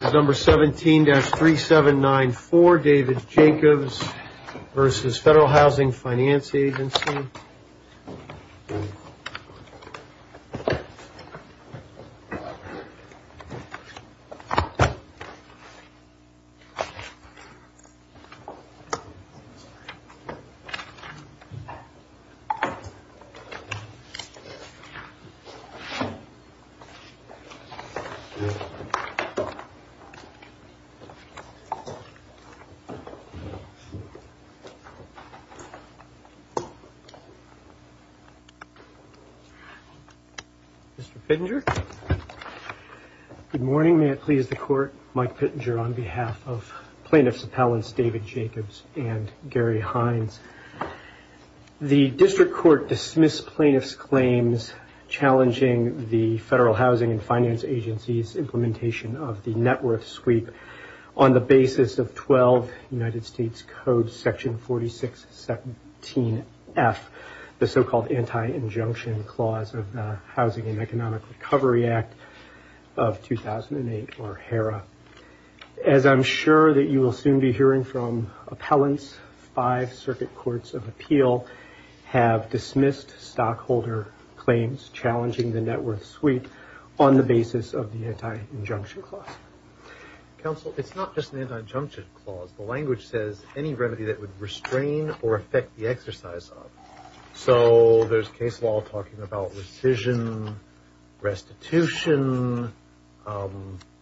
17-3794 David Jacobs v. Federal Housing Finance Agency Mr. Pittenger. Good morning. May it please the Court, Mike Pittenger on behalf of Plaintiffs Appellants David Jacobs and Gary Hines. The District Court dismissed Plaintiffs' claims challenging the Federal Housing and Finance Agency's implementation of the net worth sweep on the basis of 12 United States Code section 4617F, the so-called anti-injunction clause of the Housing and Economic Recovery Act of 2008 or HERA. As I'm sure that you will soon be hearing from Appellants, five circuit courts of appeal have dismissed stockholder claims challenging the net worth sweep on the basis of the anti-injunction clause. Counsel, it's not just an anti-injunction clause. The language says any remedy that would restrain or affect the exercise of. So there's case law talking about rescission, restitution.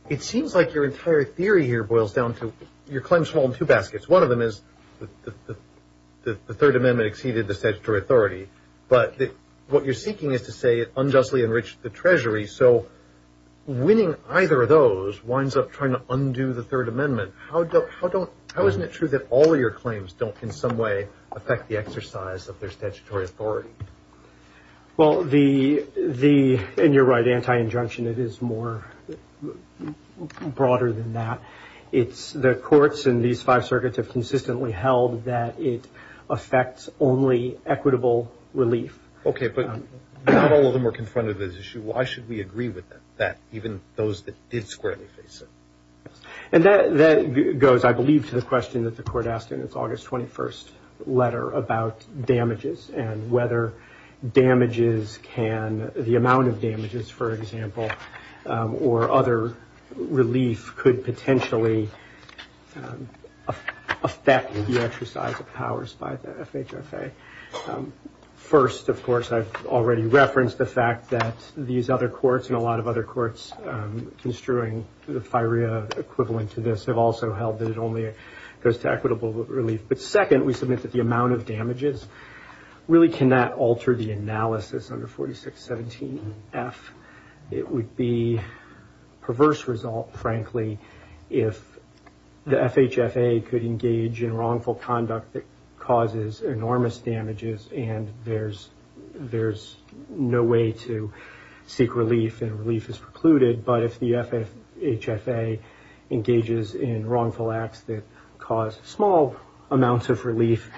It seems like your entire theory here boils down to your claims fall in two baskets. One of them is the Third Amendment exceeded the statutory authority, but what you're seeking is to say it unjustly enriched the Treasury. So winning either of those winds up trying to undo the Third Amendment. How don't, how don't, how isn't it true that all of your claims don't in some way affect the exercise of their statutory authority? Well the, the, and you're right, anti-injunction, it is more broader than that. It's the courts in these five circuits have consistently held that it affects only equitable relief. Okay, but not all of them are confronted with this issue. Why should we agree with that, even those that did squarely face it? And that, that goes, I believe, to the question that the Court asked in its August 21st letter about damages and whether damages can, the amount of damages, for example, or other relief could potentially affect the exercise of powers by the FHFA. First, of course, I've already referenced the fact that these other courts and a lot of other courts construing the FIREA equivalent to this have also held that it only goes to equitable relief. But second, we submit that the amount of damages really cannot alter the analysis under 4617F. It would be a perverse result, frankly, if the FHFA could engage in wrongful conduct that causes enormous damages and there's, there's no way to seek relief and relief is precluded. But if the FHFA engages in wrongful acts that cause small amounts of relief,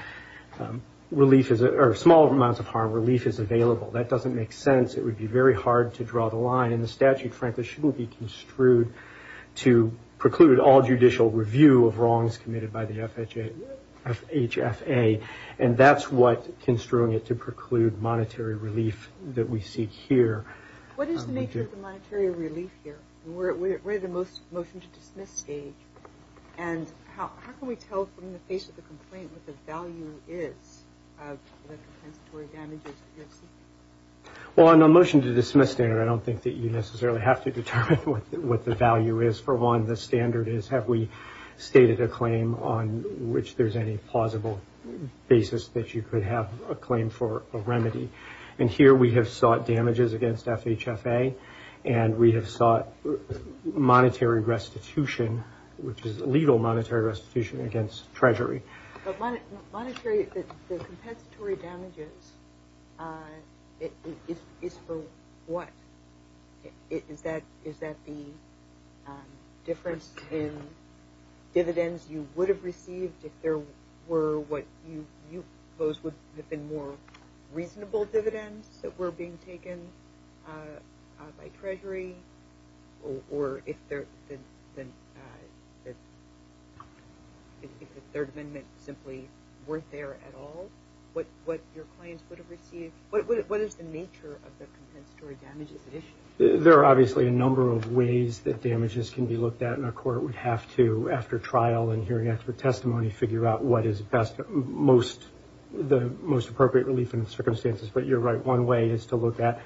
relief, or small amounts of harm, relief is available. That doesn't make sense. It would be very hard to draw the line and the statute, frankly, should be construed to preclude all judicial review of wrongs committed by the FHFA. And that's what construing it to preclude monetary relief that we seek here. What is the nature of the monetary relief here? We're at the motion to dismiss stage. And how can we tell from the face of the complaint what the value is of the compensatory damages that you're seeking? Well, on the motion to dismiss standard, I don't think that you necessarily have to determine what the value is. For one, the standard is have we stated a claim on which there's any plausible basis that you could have a claim for a remedy. And here we have sought damages against FHFA and we have sought monetary restitution, which is legal monetary restitution against Treasury. But monetary, the compensatory damages, it's for what? Is that the difference in dividends you would have received if there were what you, those would have been more reasonable dividends that were being taken by Treasury? Or if the Third Amendment simply weren't there at all, what your claims would have received? What is the nature of the compensatory damages issue? There are obviously a number of ways that damages can be looked at. And a court would have to, after trial and hearing expert testimony, figure out what is best, most, the most appropriate relief in the circumstances. But you're right, one way is to look at,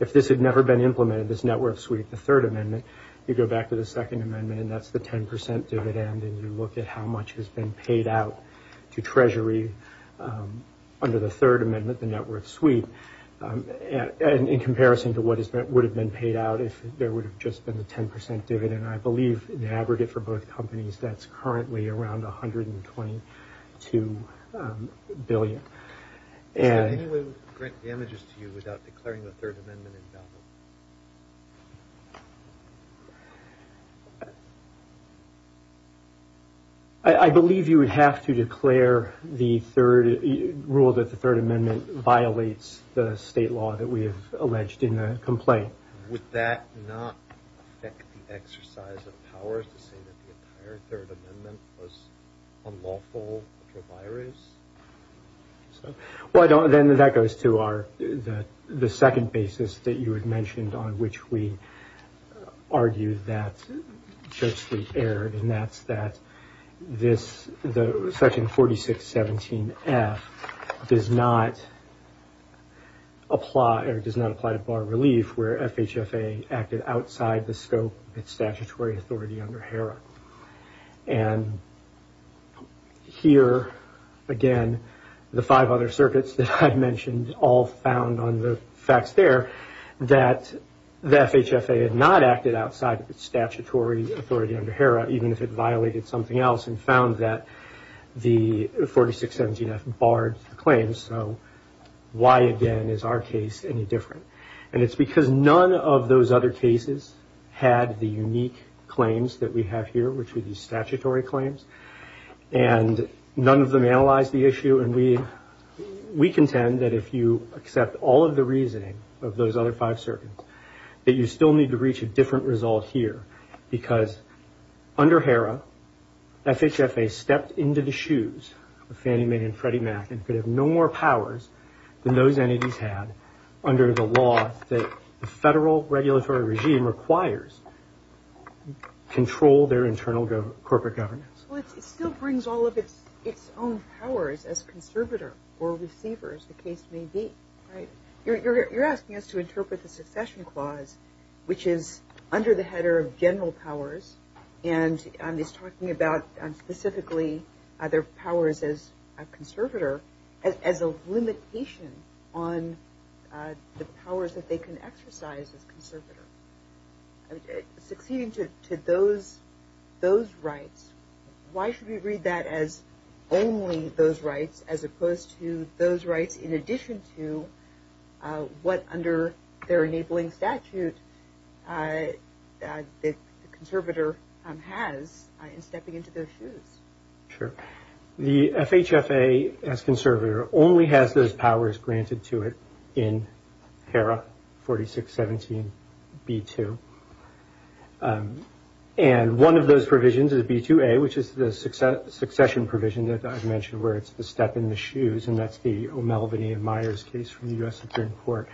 if this had never been implemented, this net worth sweep, the Third Amendment, you go back to the Second Amendment and that's the 10% dividend and you look at how much has been paid out to Treasury under the Third Amendment, the net worth sweep, and in comparison to what would have been paid out if there would have just been the 10% dividend. And I believe in the aggregate for both companies, that's currently around $122 billion. Is there any way we could grant damages to you without declaring the Third Amendment invalid? I believe you would have to declare the rule that the Third Amendment violates the state law that we have alleged in the complaint. Would that not affect the exercise of powers to say that the entire Third Amendment was unlawful for buyers? Well, then that goes to the second basis that you had mentioned on which we argue that's just the error, and that's that this section 4617F does not apply, or does not apply to FHFA acted outside the scope of its statutory authority under HERA. And here, again, the five other circuits that I mentioned all found on the facts there that the FHFA had not acted outside of its statutory authority under HERA even if it violated something else and found that the 4617F barred the claim, so why again is our case any different? And it's because none of those other cases had the unique claims that we have here, which would be statutory claims, and none of them analyzed the issue, and we contend that if you accept all of the reasoning of those other five circuits, that you still need to reach a different result here because under HERA, FHFA stepped into the shoes of Fannie Mae and Freddie Mac and could have no more powers than those entities had under the law that the federal regulatory regime requires control their internal corporate governance. Well, it still brings all of its own powers as conservator or receiver, as the case may be, right? You're asking us to interpret the succession clause, which is under the header of general powers, and is talking about specifically their powers as a conservator as a limitation on the powers that they can exercise as conservator. Succeeding to those rights, why should we read that as only those rights as opposed to those rights in addition to what under their enabling statute that the conservator has in stepping into their shoes? Sure. The FHFA as conservator only has those powers granted to it in HERA 4617B2. And one of those provisions is B2A, which is the succession provision that I've mentioned where it's the step in the shoes, and that's the O'Melveny and Myers case from the U.S. Supreme Court,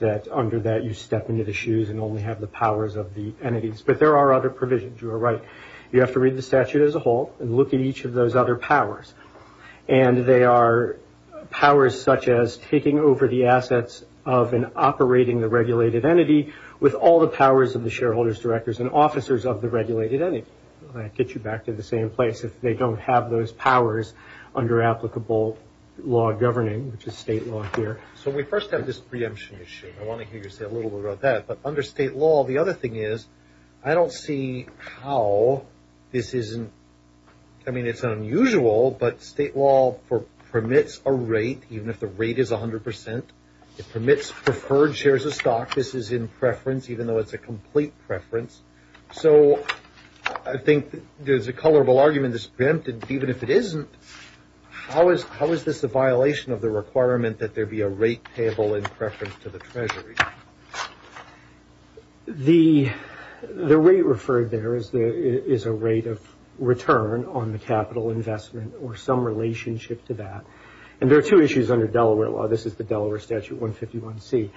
that under that you step into the shoes and only have the powers of the entities. But there are other provisions. You are right. You have to read the statute as a whole and look at each of those other powers. And they are powers such as taking over the assets of and operating the regulated entity with all the powers of the shareholders, directors, and officers of the regulated entity. I'll get you back to the same place if they don't have those powers under applicable law governing, which is state law here. So we first have this preemption issue. I want to hear you say a little bit about that. But under state law, the other thing is I don't see how this isn't – I mean, it's unusual, but state law permits a rate, even if the rate is 100 percent. It permits preferred shares of stock. This is in preference, even though it's a complete preference. So I think there's a colorable argument that's preempted. But even if it isn't, how is this a violation of the requirement that there be a rate payable in preference to the Treasury? The rate referred there is a rate of return on the capital investment or some relationship to that. And there are two issues under Delaware law. This is the Delaware Statute 151C.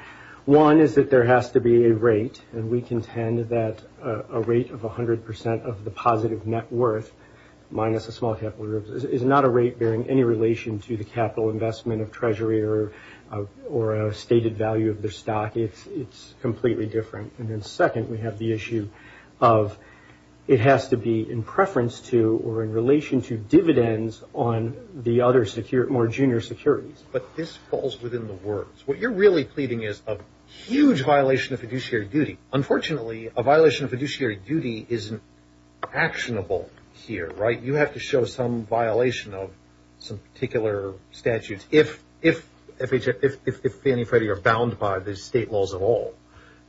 One is that there has to be a rate, and we contend that a rate of 100 percent of the positive net worth minus a small capital reserve is not a rate bearing any relation to the capital investment of Treasury or a stated value of their stock. It's completely different. And then second, we have the issue of it has to be in preference to or in relation to dividends on the other more junior securities. But this falls within the words. What you're really pleading is a huge violation of fiduciary duty. Unfortunately, a violation of fiduciary duty isn't actionable here, right? You have to show some violation of some particular statutes if Fannie and Freddie are bound by the state laws at all.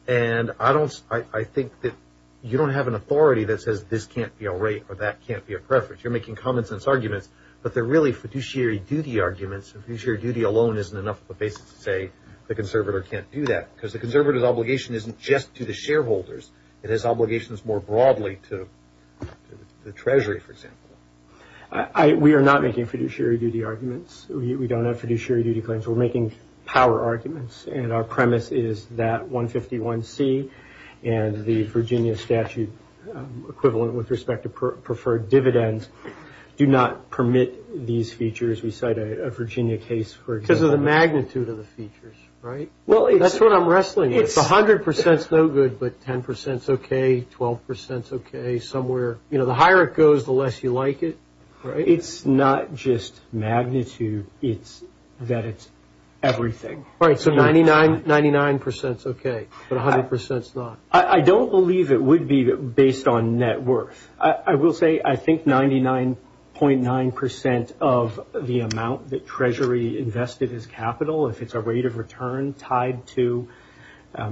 And I think that you don't have an authority that says this can't be a rate or that can't be a preference. You're making common sense arguments, but they're really fiduciary duty arguments. And fiduciary duty alone isn't enough of a basis to say the conservator can't do that because the conservative obligation isn't just to the shareholders. It has obligations more broadly to the Treasury, for example. We are not making fiduciary duty arguments. We don't have fiduciary duty claims. We're making power arguments. And our premise is that 151C and the Virginia statute equivalent with respect to preferred dividends do not permit these features. We cite a Virginia case for example. Because of the magnitude of the features, right? That's what I'm wrestling with. It's 100% no good, but 10% is okay, 12% is okay, somewhere. You know, the higher it goes, the less you like it, right? It's not just magnitude. It's that it's everything. Right, so 99% is okay, but 100% is not. I don't believe it would be based on net worth. I will say I think 99.9% of the amount that Treasury invested as capital, if it's a rate of return tied to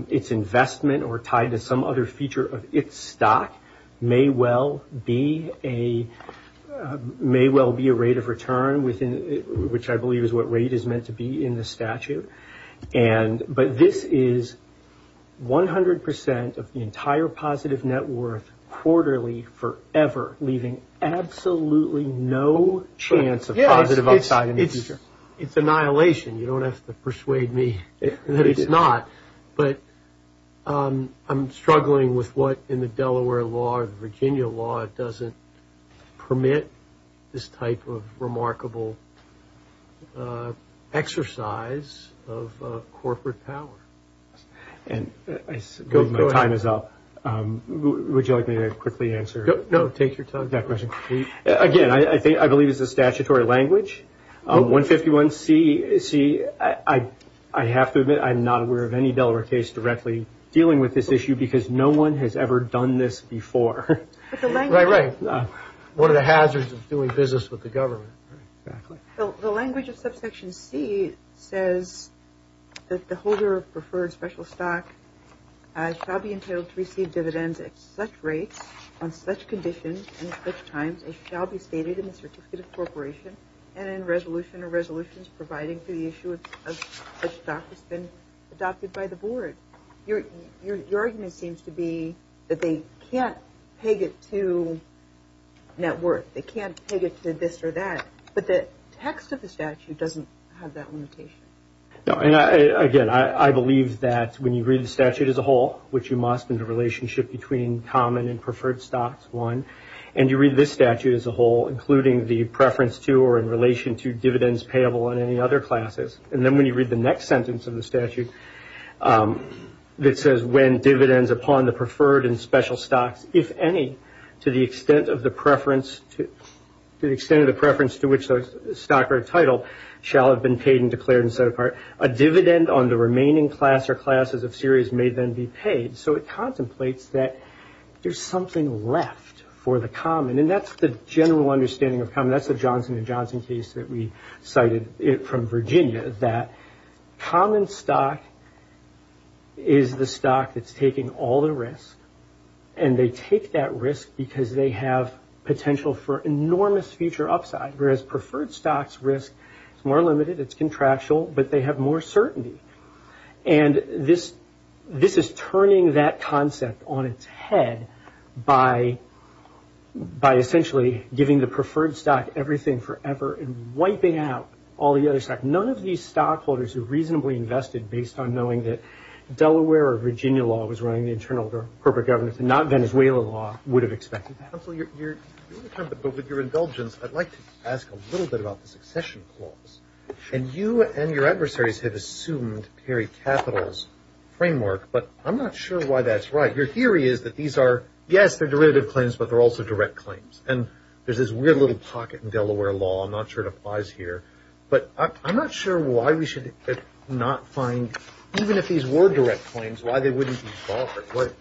its investment or tied to some other feature of its stock, may well be a rate of return, which I believe is what rate is meant to be in the statute. But this is 100% of the entire positive net worth quarterly forever, leaving absolutely no chance of positive upside in the future. It's annihilation. You don't have to persuade me that it's not. But I'm struggling with what in the Delaware law or the Virginia law doesn't permit this type of remarkable exercise of corporate power. And my time is up. Would you like me to quickly answer? No, take your time. Again, I believe it's a statutory language. 151C, I have to admit I'm not aware of any Delaware case directly dealing with this issue because no one has ever done this before. Right, right. What are the hazards of doing business with the government? The language of subsection C says that the holder of preferred special stock shall be entitled to receive dividends at such rates on such conditions in such times as shall be stated in the certificate of corporation and in resolution or resolutions providing for the issue of such stock has been adopted by the board. Your argument seems to be that they can't peg it to net worth. They can't peg it to this or that. But the text of the statute doesn't have that limitation. Again, I believe that when you read the statute as a whole, which you must in the relationship between common and preferred stocks, one, and you read this statute as a whole, including the preference to or in relation to dividends payable in any other classes, and then when you read the next sentence of the statute that says when dividends upon the preferred and special stocks, if any, to the extent of the preference to which the stock or title shall have been paid and declared and set apart, a dividend on the remaining class or classes of series may then be paid. So it contemplates that there's something left for the common, and that's the general understanding of common. That's the Johnson & Johnson case that we cited from Virginia, that common stock is the stock that's taking all the risk, and they take that risk because they have potential for enormous future upside, whereas preferred stocks' risk is more limited, it's contractual, but they have more certainty. And this is turning that concept on its head by essentially giving the preferred stock everything forever and wiping out all the other stocks. None of these stockholders who reasonably invested based on knowing that Delaware or Virginia law was running the internal corporate governance and not Venezuela law would have expected that. But with your indulgence, I'd like to ask a little bit about the succession clause. And you and your adversaries have assumed Perry Capital's framework, but I'm not sure why that's right. Your theory is that these are, yes, they're derivative claims, but they're also direct claims. And there's this weird little pocket in Delaware law. I'm not sure it applies here. But I'm not sure why we should not find, even if these were direct claims, why they wouldn't be barred.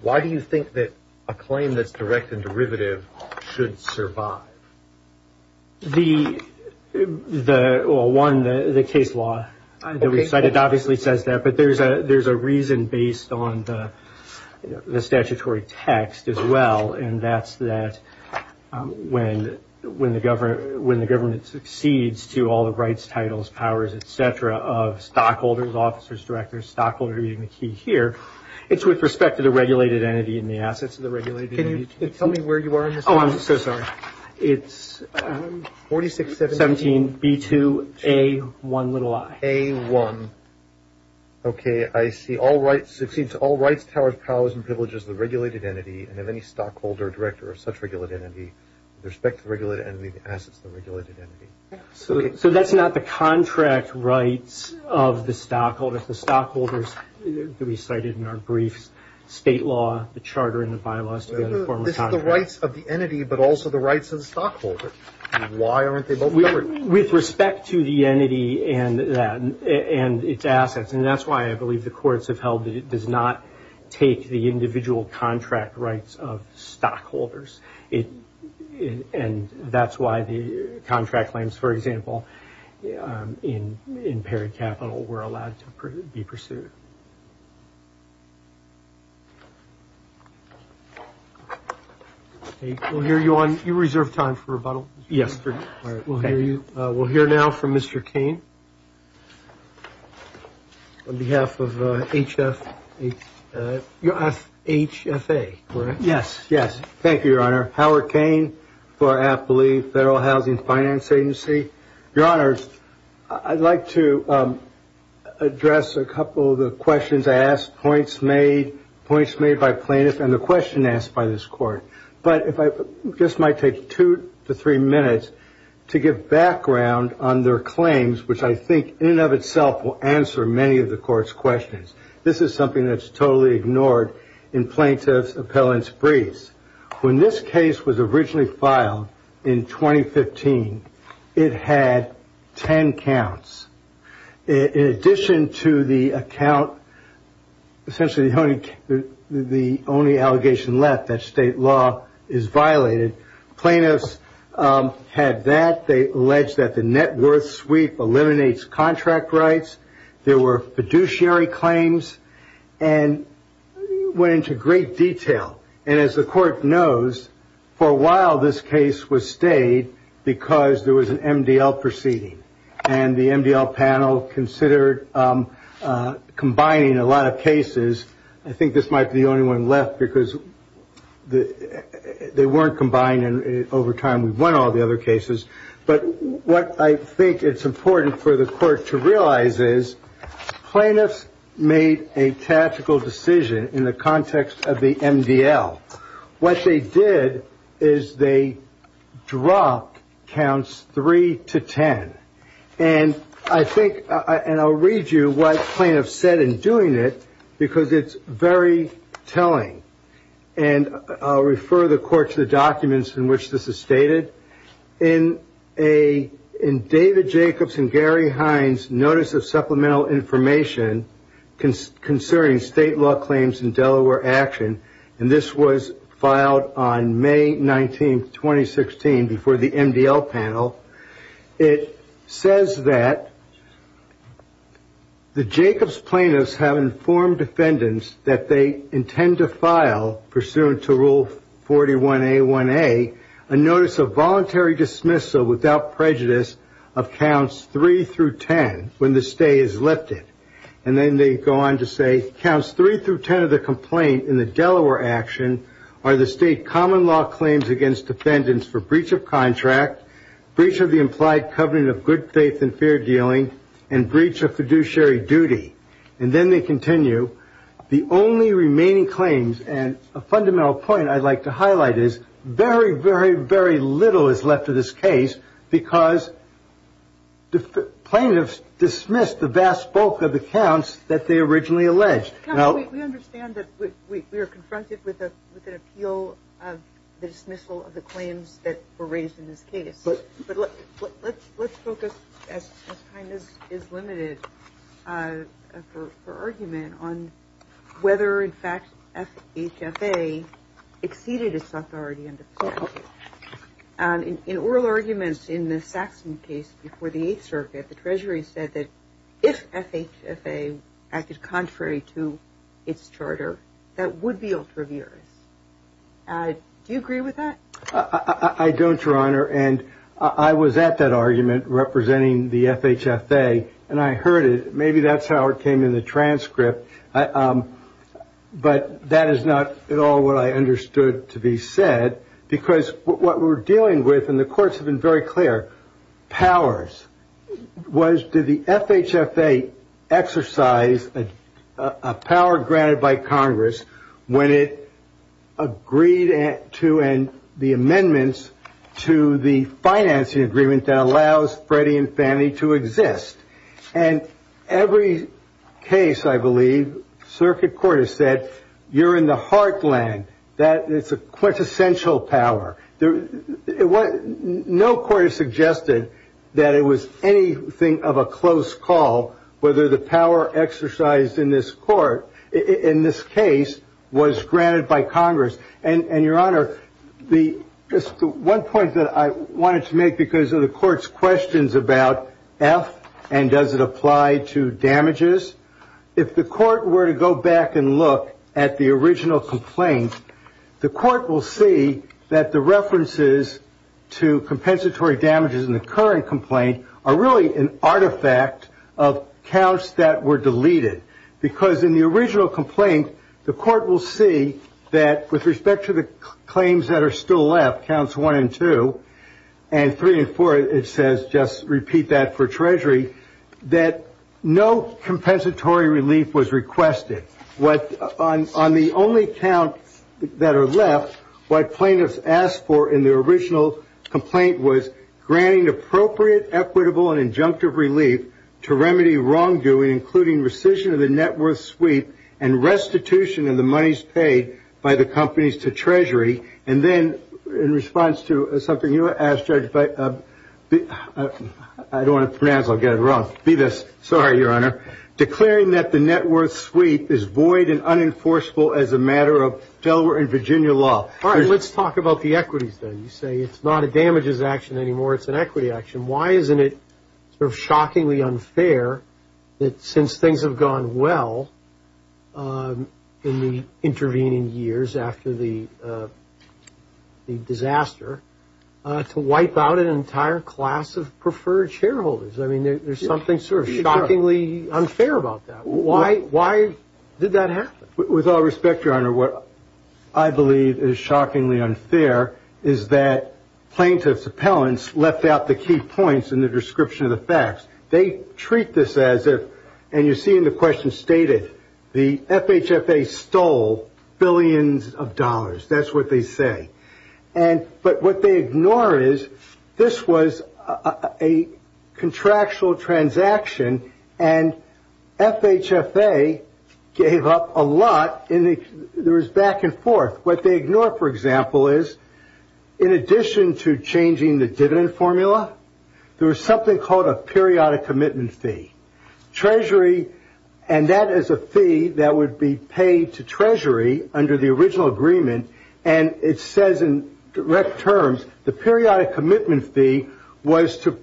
Why do you think that a claim that's direct and derivative should survive? Well, one, the case law. It obviously says that, but there's a reason based on the statutory text as well, and that's that when the government succeeds to all the rights, titles, powers, et cetera, of stockholders, officers, directors, stockholders, reading the key here, it's with respect to the regulated entity and the assets of the regulated entity. Can you tell me where you are on this one? Oh, I'm so sorry. It's 4617B2A1i. A1. Okay, I see. Succeeds to all rights, titles, powers, and privileges of the regulated entity, and of any stockholder, director, or such regulated entity, with respect to the regulated entity, the assets of the regulated entity. Okay. So that's not the contract rights of the stockholders. The stockholders that we cited in our briefs, state law, the charter, and the bylaws together form a contract. This is the rights of the entity, but also the rights of the stockholder. Why aren't they both covered? With respect to the entity and its assets, and that's why I believe the courts have held that it does not take the individual contract rights of stockholders, and that's why the contract claims, for example, in paired capital were allowed to be pursued. We'll hear you on your reserved time for rebuttal. Yes. We'll hear now from Mr. Cain. On behalf of HFA, correct? Yes. Yes. Thank you, Your Honor. Howard Cain for AFPLE, Federal Housing Finance Agency. Your Honors, I'd like to address a couple of the questions I asked, points made by plaintiffs, and the question asked by this Court. But this might take two to three minutes to give background on their claims, which I think in and of itself will answer many of the Court's questions. This is something that's totally ignored in plaintiff's appellant's briefs. When this case was originally filed in 2015, it had ten counts. In addition to the account, essentially the only allegation left, that state law is violated, plaintiffs had that. They alleged that the net worth sweep eliminates contract rights. There were fiduciary claims and went into great detail. And as the Court knows, for a while this case was stayed because there was an MDL proceeding, and the MDL panel considered combining a lot of cases. I think this might be the only one left because they weren't combined, and over time we've won all the other cases. But what I think it's important for the Court to realize is, plaintiffs made a tactical decision in the context of the MDL. What they did is they dropped counts three to ten. And I'll read you what plaintiffs said in doing it because it's very telling. And I'll refer the Court to the documents in which this is stated. In David Jacobs and Gary Hines Notice of Supplemental Information Concerning State Law Claims in Delaware Action, and this was filed on May 19, 2016, before the MDL panel, it says that the Jacobs plaintiffs have informed defendants that they intend to file, pursuant to Rule 41A1A, a Notice of Voluntary Dismissal without Prejudice of Counts 3-10 when the stay is lifted. And then they go on to say, Counts 3-10 of the complaint in the Delaware action are the state common law claims against defendants for breach of contract, breach of the implied covenant of good faith and fair dealing, and breach of fiduciary duty. And then they continue, the only remaining claims, and a fundamental point I'd like to highlight is, very, very, very little is left of this case because plaintiffs dismissed the vast bulk of the counts that they originally alleged. We understand that we are confronted with an appeal of the dismissal of the claims that were raised in this case. But let's focus, as time is limited, for argument on whether, in fact, FHFA exceeded its authority under the statute. In oral arguments in the Saxon case before the Eighth Circuit, the Treasury said that if FHFA acted contrary to its charter, that would be ultraviarious. Do you agree with that? I don't, Your Honor, and I was at that argument representing the FHFA, and I heard it. Maybe that's how it came in the transcript, but that is not at all what I understood to be said, because what we're dealing with, and the courts have been very clear, powers, was did the FHFA exercise a power granted by Congress when it agreed to the amendments to the financing agreement that allows Freddie and Fannie to exist? And every case, I believe, Circuit Court has said, you're in the heartland. That is a quintessential power. No court has suggested that it was anything of a close call, whether the power exercised in this court, in this case, was granted by Congress. And, Your Honor, the one point that I wanted to make because of the court's questions about F and does it apply to damages, if the court were to go back and look at the original complaint, the court will see that the references to compensatory damages in the current complaint are really an artifact of counts that were deleted. Because in the original complaint, the court will see that with respect to the claims that are still left, counts one and two, and three and four, it says just repeat that for treasury, that no compensatory relief was requested. On the only count that are left, what plaintiffs asked for in the original complaint was granting appropriate, equitable, and injunctive relief to remedy wrongdoing, including rescission of the net worth sweep and restitution of the monies paid by the companies to treasury. And then in response to something you asked, Judge, I don't want to pronounce, I'll get it wrong. Sorry, Your Honor. Declaring that the net worth sweep is void and unenforceable as a matter of Delaware and Virginia law. All right, let's talk about the equities then. You say it's not a damages action anymore, it's an equity action. Why isn't it sort of shockingly unfair that since things have gone well in the intervening years after the disaster, to wipe out an entire class of preferred shareholders? I mean, there's something sort of shockingly unfair about that. Why did that happen? With all respect, Your Honor, what I believe is shockingly unfair is that plaintiffs' appellants left out the key points in the description of the facts. They treat this as if, and you see in the question stated, the FHFA stole billions of dollars. That's what they say. But what they ignore is this was a contractual transaction, and FHFA gave up a lot. There was back and forth. What they ignore, for example, is in addition to changing the dividend formula, there was something called a periodic commitment fee. Treasury, and that is a fee that would be paid to Treasury under the original agreement, and it says in direct terms the periodic commitment fee was to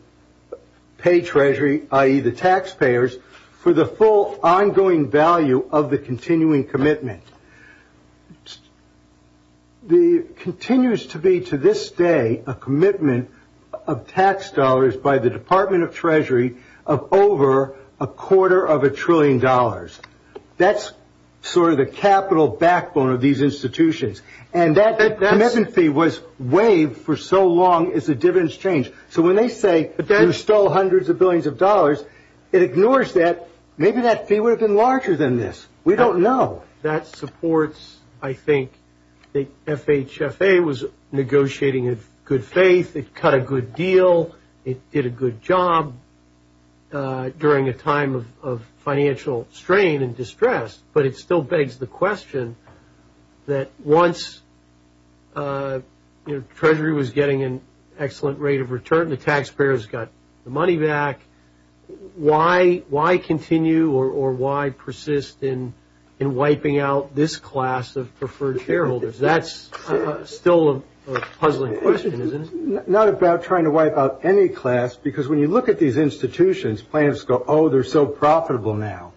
pay Treasury, i.e. the taxpayers, for the full ongoing value of the continuing commitment. There continues to be, to this day, a commitment of tax dollars by the Department of Treasury of over a quarter of a trillion dollars. That's sort of the capital backbone of these institutions, and that commitment fee was waived for so long as the dividends changed. So when they say you stole hundreds of billions of dollars, it ignores that. Maybe that fee would have been larger than this. We don't know. That supports, I think, that FHFA was negotiating in good faith. It cut a good deal. It did a good job during a time of financial strain and distress, but it still begs the question that once Treasury was getting an excellent rate of return, the taxpayers got the money back, why continue or why persist in wiping out this class of preferred shareholders? That's still a puzzling question, isn't it? Not about trying to wipe out any class, because when you look at these institutions, planners go, oh, they're so profitable now.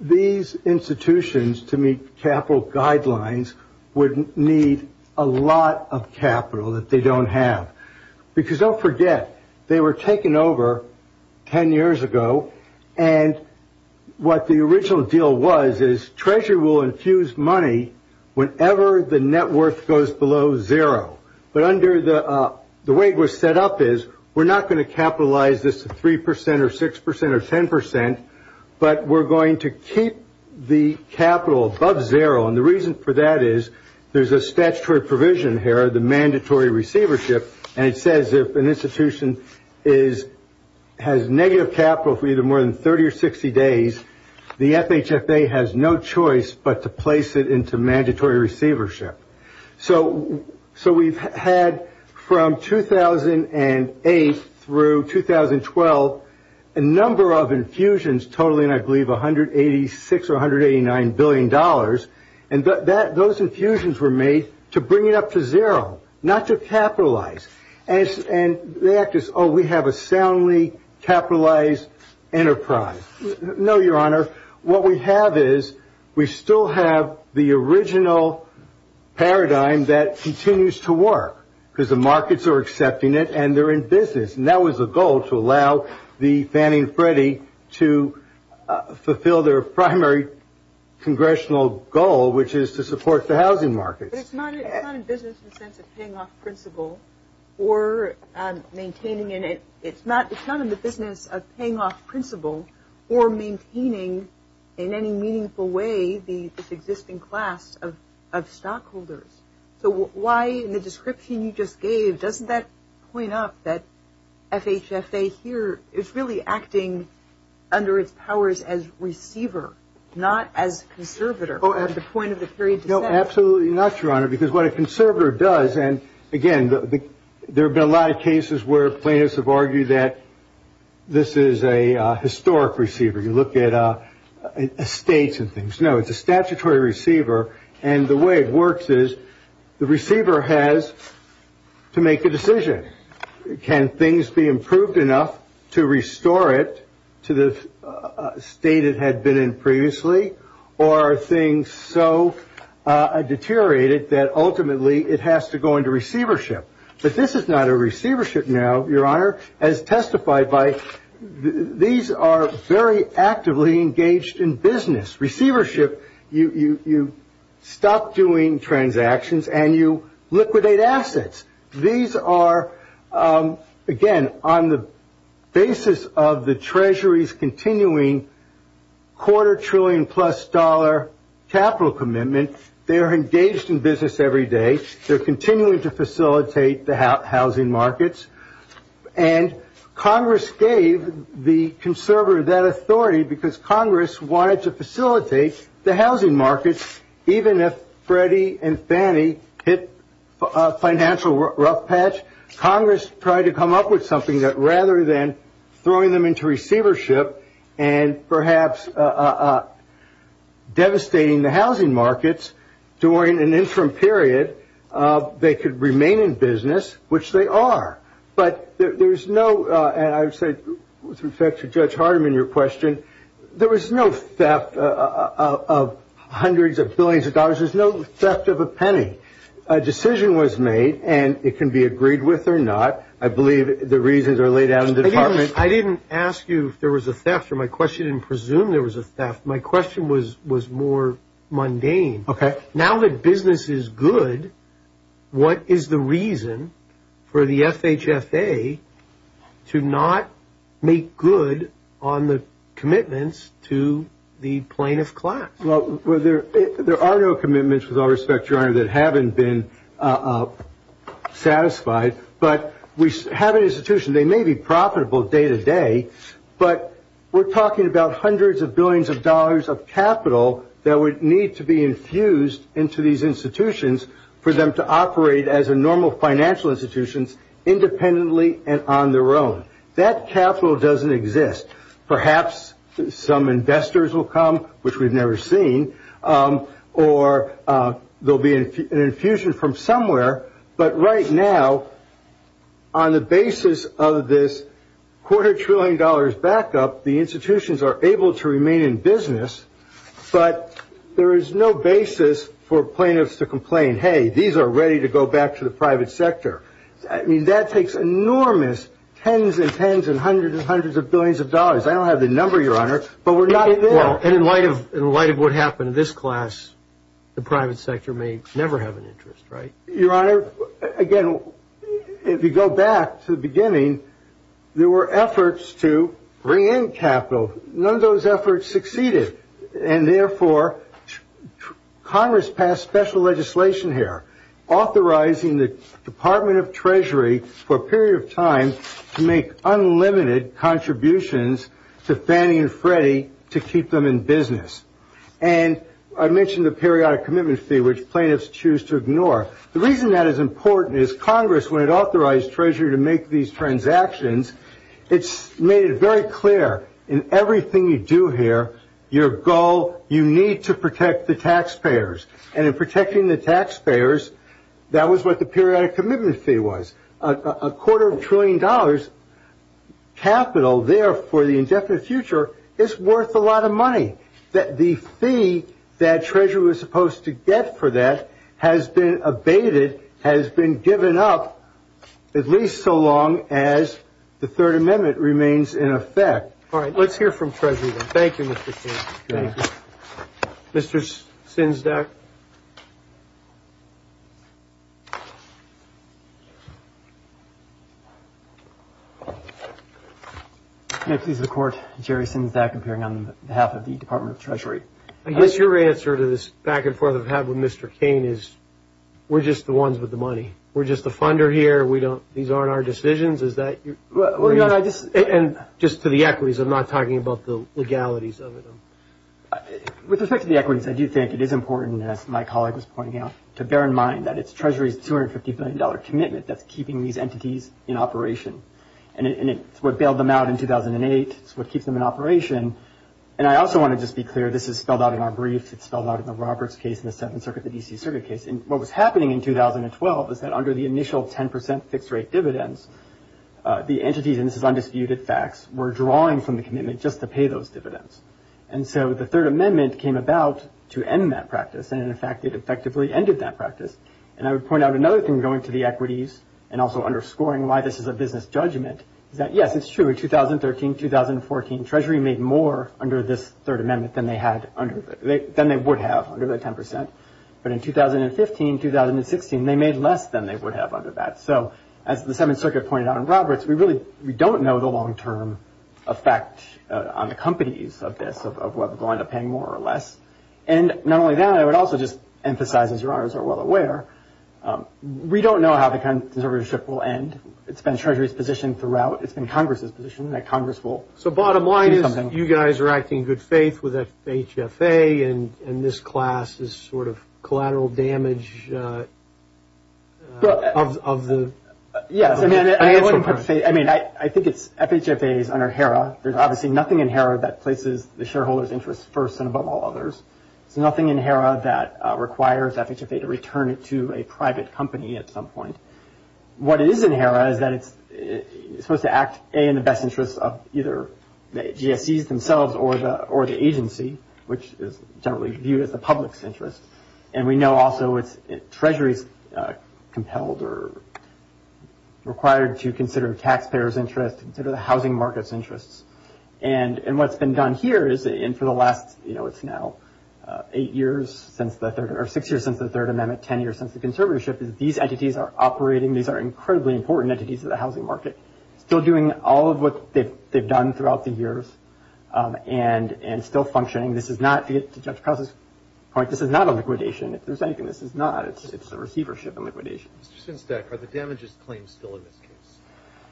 These institutions, to meet capital guidelines, would need a lot of capital that they don't have. Because don't forget, they were taken over 10 years ago, and what the original deal was is Treasury will infuse money whenever the net worth goes below zero. But the way it was set up is we're not going to capitalize this at 3 percent or 6 percent or 10 percent, but we're going to keep the capital above zero. And the reason for that is there's a statutory provision here, the mandatory receivership, and it says if an institution has negative capital for either more than 30 or 60 days, the FHFA has no choice but to place it into mandatory receivership. So we've had from 2008 through 2012 a number of infusions totaling, I believe, $186 or $189 billion, and those infusions were made to bring it up to zero, not to capitalize. And they act as, oh, we have a soundly capitalized enterprise. No, Your Honor. What we have is we still have the original paradigm that continues to work, because the markets are accepting it and they're in business. And that was the goal, to allow the Fannie and Freddie to fulfill their primary congressional goal, which is to support the housing market. But it's not in business in the sense of paying off principal or maintaining it. It's not in the business of paying off principal or maintaining in any meaningful way the existing class of stockholders. So why in the description you just gave, doesn't that point up that FHFA here is really acting under its powers as receiver, not as conservator at the point of the period to set it? Absolutely not, Your Honor, because what a conservator does, and again, there have been a lot of cases where plaintiffs have argued that this is a historic receiver. You look at estates and things. No, it's a statutory receiver, and the way it works is the receiver has to make a decision. Can things be improved enough to restore it to the state it had been in previously, or are things so deteriorated that ultimately it has to go into receivership? But this is not a receivership now, Your Honor, as testified by these are very actively engaged in business. Receivership, you stop doing transactions and you liquidate assets. These are, again, on the basis of the Treasury's continuing quarter trillion plus dollar capital commitment. They are engaged in business every day. They're continuing to facilitate the housing markets. And Congress gave the conservator that authority because Congress wanted to facilitate the housing markets, even if Freddie and Fannie hit a financial rough patch, Congress tried to come up with something that rather than throwing them into receivership and perhaps devastating the housing markets during an interim period, they could remain in business, which they are. But there's no, and I would say with respect to Judge Hardiman, your question, there was no theft of hundreds of billions of dollars. There's no theft of a penny. A decision was made, and it can be agreed with or not. I believe the reasons are laid out in the department. I didn't ask you if there was a theft, or my question didn't presume there was a theft. My question was more mundane. Okay. Now that business is good, what is the reason for the FHFA to not make good on the commitments to the plaintiff class? Well, there are no commitments, with all respect, Your Honor, that haven't been satisfied. But we have an institution. They may be profitable day to day, but we're talking about hundreds of billions of dollars of capital that would need to be infused into these institutions for them to operate as a normal financial institution independently and on their own. That capital doesn't exist. Perhaps some investors will come, which we've never seen, or there will be an infusion from somewhere. But right now, on the basis of this quarter trillion dollars backup, the institutions are able to remain in business, but there is no basis for plaintiffs to complain, hey, these are ready to go back to the private sector. I mean, that takes enormous tens and tens and hundreds and hundreds of billions of dollars. I don't have the number, Your Honor, but we're not there. And in light of what happened in this class, the private sector may never have an interest, right? Your Honor, again, if you go back to the beginning, there were efforts to bring in capital. None of those efforts succeeded. And therefore, Congress passed special legislation here authorizing the Department of Treasury for a period of time to make unlimited contributions to Fannie and Freddie to keep them in business. And I mentioned the periodic commitment fee, which plaintiffs choose to ignore. The reason that is important is Congress, when it authorized Treasury to make these transactions, it made it very clear in everything you do here, your goal, you need to protect the taxpayers. And in protecting the taxpayers, that was what the periodic commitment fee was. A quarter of a trillion dollars capital there for the indefinite future is worth a lot of money. The fee that Treasury was supposed to get for that has been abated, has been given up, at least so long as the Third Amendment remains in effect. All right, let's hear from Treasury then. Thank you, Mr. King. Thank you. Mr. Sinsdak. May it please the Court, Jerry Sinsdak, appearing on behalf of the Department of Treasury. I guess your answer to this back and forth I've had with Mr. King is we're just the ones with the money. We're just the funder here. These aren't our decisions. And just to the equities, I'm not talking about the legalities of it. With respect to the equities, I do think it is important, as my colleague was pointing out, to bear in mind that it's Treasury's $250 billion commitment that's keeping these entities in operation. And it's what bailed them out in 2008. It's what keeps them in operation. And I also want to just be clear, this is spelled out in our brief. It's spelled out in the Roberts case and the Seventh Circuit, the D.C. Circuit case. And what was happening in 2012 is that under the initial 10 percent fixed-rate dividends, the entities, and this is undisputed facts, were drawing from the commitment just to pay those dividends. And so the Third Amendment came about to end that practice. And, in fact, it effectively ended that practice. And I would point out another thing going to the equities and also underscoring why this is a business judgment is that, yes, it's true, in 2013, 2014, Treasury made more under this Third Amendment than they would have under the 10 percent. But in 2015, 2016, they made less than they would have under that. So as the Seventh Circuit pointed out in Roberts, we really don't know the long-term effect on the companies of this, of whether they'll end up paying more or less. And not only that, I would also just emphasize, as your honors are well aware, we don't know how the conservatorship will end. It's been Treasury's position throughout. It's been Congress's position that Congress will do something. You guys are acting in good faith with FHFA, and this class is sort of collateral damage of the – Yes, I mean, I think it's – FHFA is under HERA. There's obviously nothing in HERA that places the shareholders' interests first and above all others. There's nothing in HERA that requires FHFA to return it to a private company at some point. What is in HERA is that it's supposed to act, A, in the best interests of either the GSEs themselves or the agency, which is generally viewed as the public's interest. And we know also it's Treasury's compelled or required to consider taxpayers' interests, consider the housing market's interests. And what's been done here is, and for the last – you know, it's now eight years since the Third – operating – these are incredibly important entities to the housing market – still doing all of what they've done throughout the years and still functioning. This is not – to get to Judge Krause's point, this is not a liquidation. If there's anything, this is not. It's a receivership and liquidation. Mr. Synsteck, are the damages claims still in this case?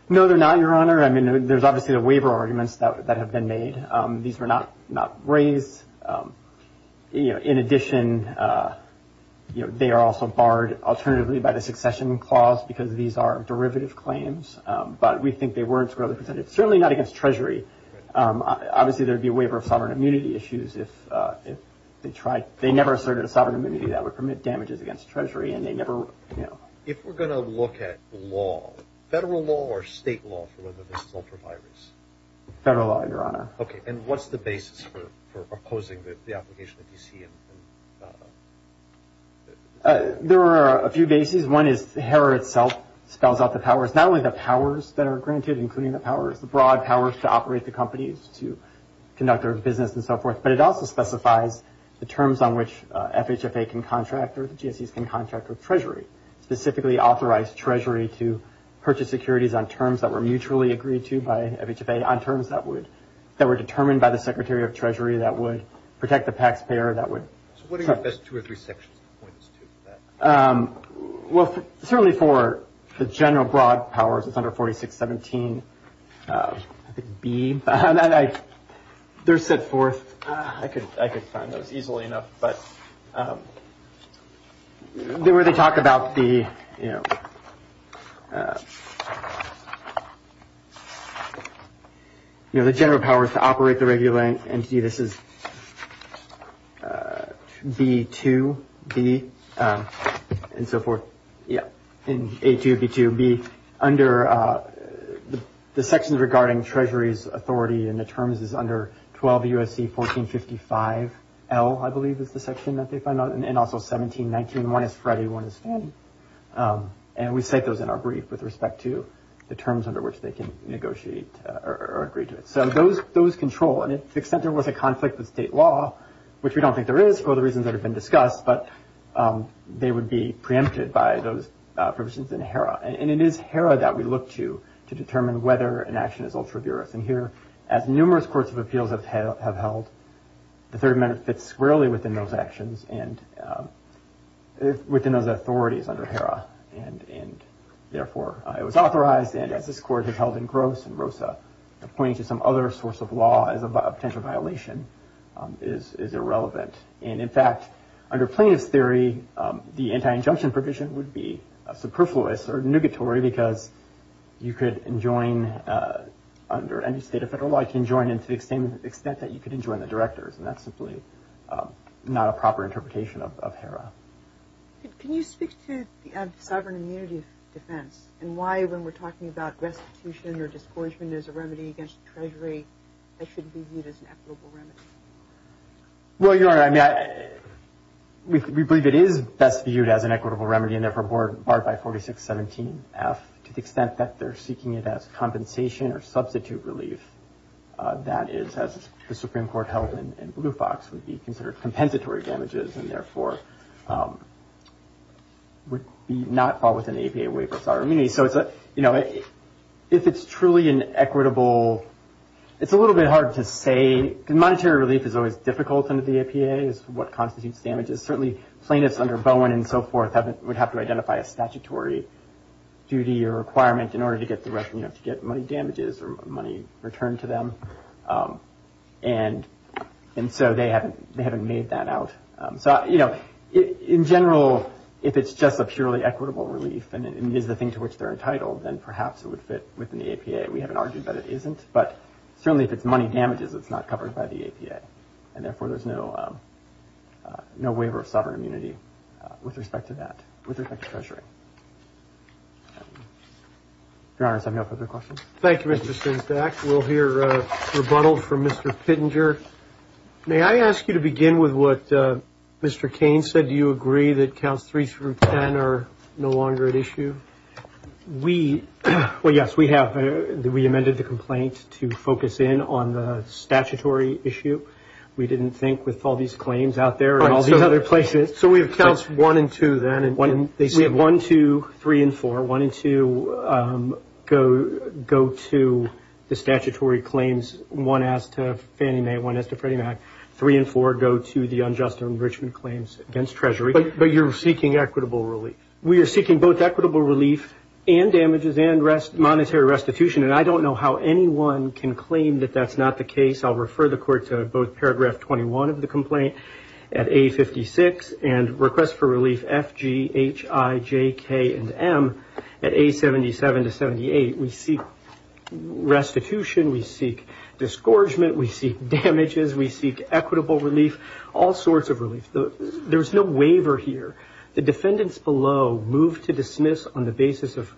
No, they're not, Your Honor. I mean, there's obviously the waiver arguments that have been made. These were not raised. In addition, they are also barred alternatively by the succession clause because these are derivative claims, but we think they weren't squarely presented. Certainly not against Treasury. Obviously, there would be a waiver of sovereign immunity issues if they tried – they never asserted a sovereign immunity that would permit damages against Treasury, and they never – you know. If we're going to look at law, federal law or state law for whether this is ultra-virus? Federal law, Your Honor. Okay. And what's the basis for opposing the application of D.C.? There are a few bases. One is HERA itself spells out the powers. Not only the powers that are granted, including the powers – the broad powers to operate the companies, to conduct their business and so forth, but it also specifies the terms on which FHFA can contract or the GSEs can contract with Treasury, specifically authorized Treasury to purchase securities on terms that were mutually agreed to by FHFA, on terms that would – that were determined by the Secretary of Treasury that would protect the taxpayer, that would – So what are your best two or three sections to point us to for that? Well, certainly for the general broad powers, it's under 4617, I think, B. They're set forth – I could find those easily enough. But where they talk about the – you know, the general powers to operate the regulatory entity, this is B2B and so forth. Yeah. In A2B2B, under the sections regarding Treasury's authority and the terms is under 12 U.S.C. 1455L, I believe is the section that they find out, and also 1719. One is Freddie, one is Fannie. And we cite those in our brief with respect to the terms under which they can negotiate or agree to it. So those control. And to the extent there was a conflict with state law, which we don't think there is for the reasons that have been discussed, but they would be preempted by those provisions in HERA. And it is HERA that we look to to determine whether an action is ultra-duress. And here, as numerous courts of appeals have held, the Third Amendment fits squarely within those actions and within those authorities under HERA. And therefore, it was authorized, and as this Court has held in Gross and Rosa, pointing to some other source of law as a potential violation is irrelevant. And, in fact, under plaintiff's theory, the anti-injunction provision would be superfluous or nugatory because you could enjoin under any state of federal law, you could enjoin it to the extent that you could enjoin the directors. And that's simply not a proper interpretation of HERA. Can you speak to the sovereign immunity defense and why when we're talking about restitution or discouragement as a remedy against the Treasury, it shouldn't be viewed as an equitable remedy? Well, Your Honor, I mean, we believe it is best viewed as an equitable remedy and therefore barred by 4617F to the extent that they're seeking it as compensation or substitute relief. That is, as the Supreme Court held in Blue Fox, would be considered compensatory damages and therefore would not fall within the APA waiver of sovereign immunity. So, you know, if it's truly an equitable, it's a little bit hard to say. I mean, monetary relief is always difficult under the APA, is what constitutes damages. Certainly plaintiffs under Bowen and so forth would have to identify a statutory duty or requirement in order to get money damages or money returned to them. And so they haven't made that out. So, you know, in general, if it's just a purely equitable relief and it is the thing to which they're entitled, then perhaps it would fit within the APA. We haven't argued that it isn't. But certainly if it's money damages, it's not covered by the APA. And therefore, there's no waiver of sovereign immunity with respect to that, with respect to treasuring. Your Honor, does anyone have further questions? Thank you, Mr. Stinsdak. We'll hear rebuttals from Mr. Pittenger. May I ask you to begin with what Mr. Kane said? Do you agree that counts three through ten are no longer at issue? We, well, yes, we have. We amended the complaint to focus in on the statutory issue. We didn't think with all these claims out there and all the other places. So we have counts one and two then. We have one, two, three, and four. One and two go to the statutory claims. One as to Fannie Mae, one as to Freddie Mac. Three and four go to the unjust enrichment claims against Treasury. But you're seeking equitable relief. We are seeking both equitable relief and damages and monetary restitution. And I don't know how anyone can claim that that's not the case. I'll refer the Court to both paragraph 21 of the complaint at A56 and request for relief F, G, H, I, J, K, and M. At A77 to 78, we seek restitution. We seek disgorgement. We seek damages. We seek equitable relief, all sorts of relief. There's no waiver here. The defendants below moved to dismiss on the basis of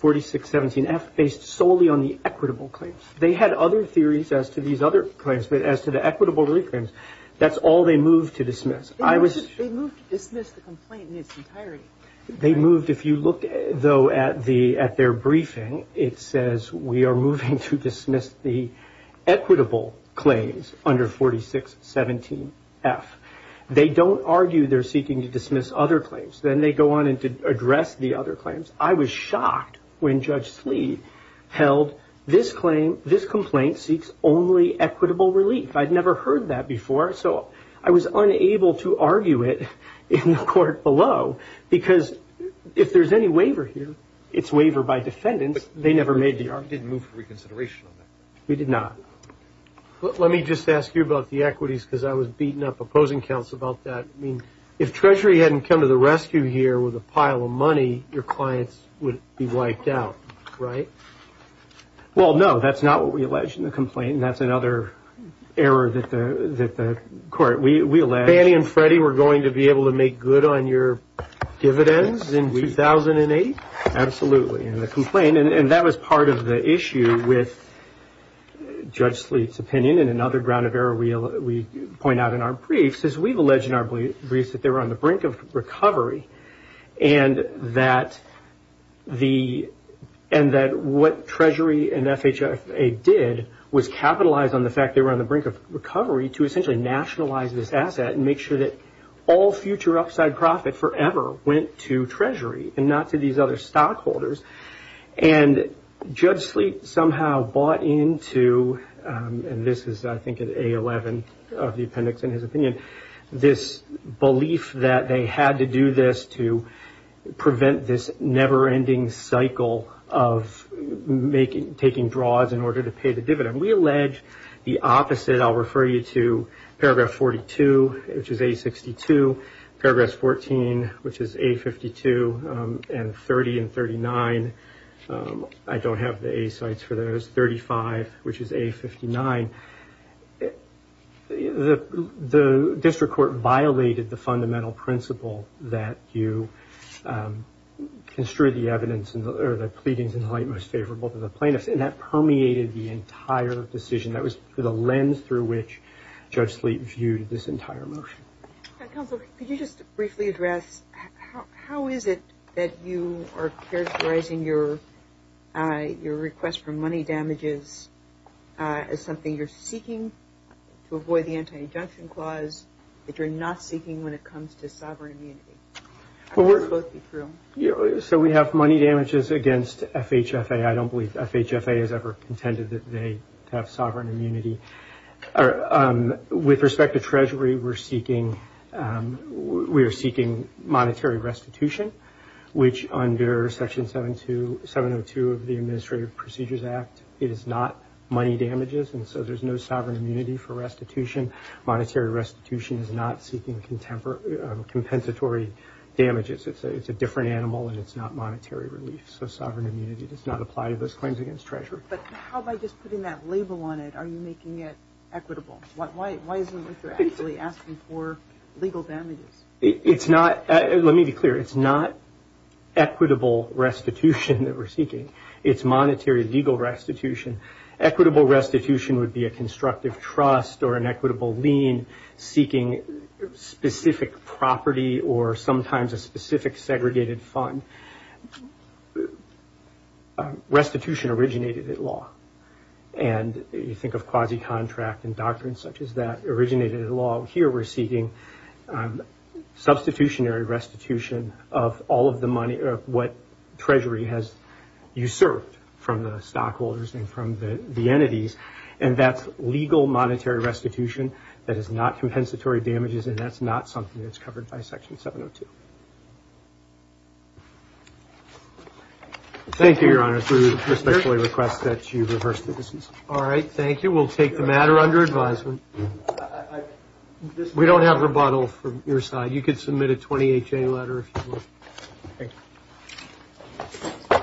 4617F based solely on the equitable claims. They had other theories as to these other claims, but as to the equitable relief claims, that's all they moved to dismiss. They moved to dismiss the complaint in its entirety. They moved. If you look, though, at their briefing, it says we are moving to dismiss the equitable claims under 4617F. They don't argue they're seeking to dismiss other claims. Then they go on to address the other claims. I was shocked when Judge Slead held this complaint seeks only equitable relief. I'd never heard that before, so I was unable to argue it in the Court below because if there's any waiver here, it's waiver by defendants. They never made the argument. You didn't move for reconsideration on that? We did not. Let me just ask you about the equities because I was beaten up opposing counsel about that. I mean, if Treasury hadn't come to the rescue here with a pile of money, your clients would be wiped out, right? Well, no, that's not what we alleged in the complaint, and that's another error that the Court, we alleged. Fannie and Freddie were going to be able to make good on your dividends in 2008? Absolutely. That was part of the issue with Judge Slead's opinion and another ground of error we point out in our briefs is we've alleged in our briefs that they were on the brink of recovery and that what Treasury and FHFA did was capitalize on the fact they were on the brink of recovery to essentially nationalize this asset and make sure that all future upside profit forever went to Treasury and not to these other stockholders. And Judge Slead somehow bought into, and this is I think at A11 of the appendix in his opinion, this belief that they had to do this to prevent this never-ending cycle of taking draws in order to pay the dividend. We allege the opposite. I'll refer you to paragraph 42, which is A62, paragraph 14, which is A52, and 30 and 39. I don't have the A sites for those. 35, which is A59. The district court violated the fundamental principle that you construe the evidence or the pleadings in the light most favorable to the plaintiffs, and that permeated the entire decision. That was the lens through which Judge Slead viewed this entire motion. Counsel, could you just briefly address how is it that you are characterizing your request for money damages as something you're seeking to avoid the anti-injunction clause that you're not seeking when it comes to sovereign immunity? How does this both be true? So we have money damages against FHFA. I don't believe FHFA has ever contended that they have sovereign immunity. With respect to Treasury, we're seeking monetary restitution, which under Section 702 of the Administrative Procedures Act is not money damages, and so there's no sovereign immunity for restitution. Monetary restitution is not seeking compensatory damages. It's a different animal, and it's not monetary relief. So sovereign immunity does not apply to those claims against Treasury. But how about just putting that label on it? Are you making it equitable? Why isn't it that you're actually asking for legal damages? Let me be clear. It's not equitable restitution that we're seeking. It's monetary legal restitution. Equitable restitution would be a constructive trust or an equitable lien seeking specific property or sometimes a specific segregated fund. Restitution originated at law, and you think of quasi-contract and doctrines such as that originated at law. Here we're seeking substitutionary restitution of all of the money, what Treasury has usurped from the stockholders and from the entities, and that's legal monetary restitution. That is not compensatory damages, and that's not something that's covered by Section 702. Thank you, Your Honor. We respectfully request that you reverse the decision. All right. Thank you. We'll take the matter under advisement. We don't have rebuttal from your side. You could submit a 20HA letter if you would. Thank you.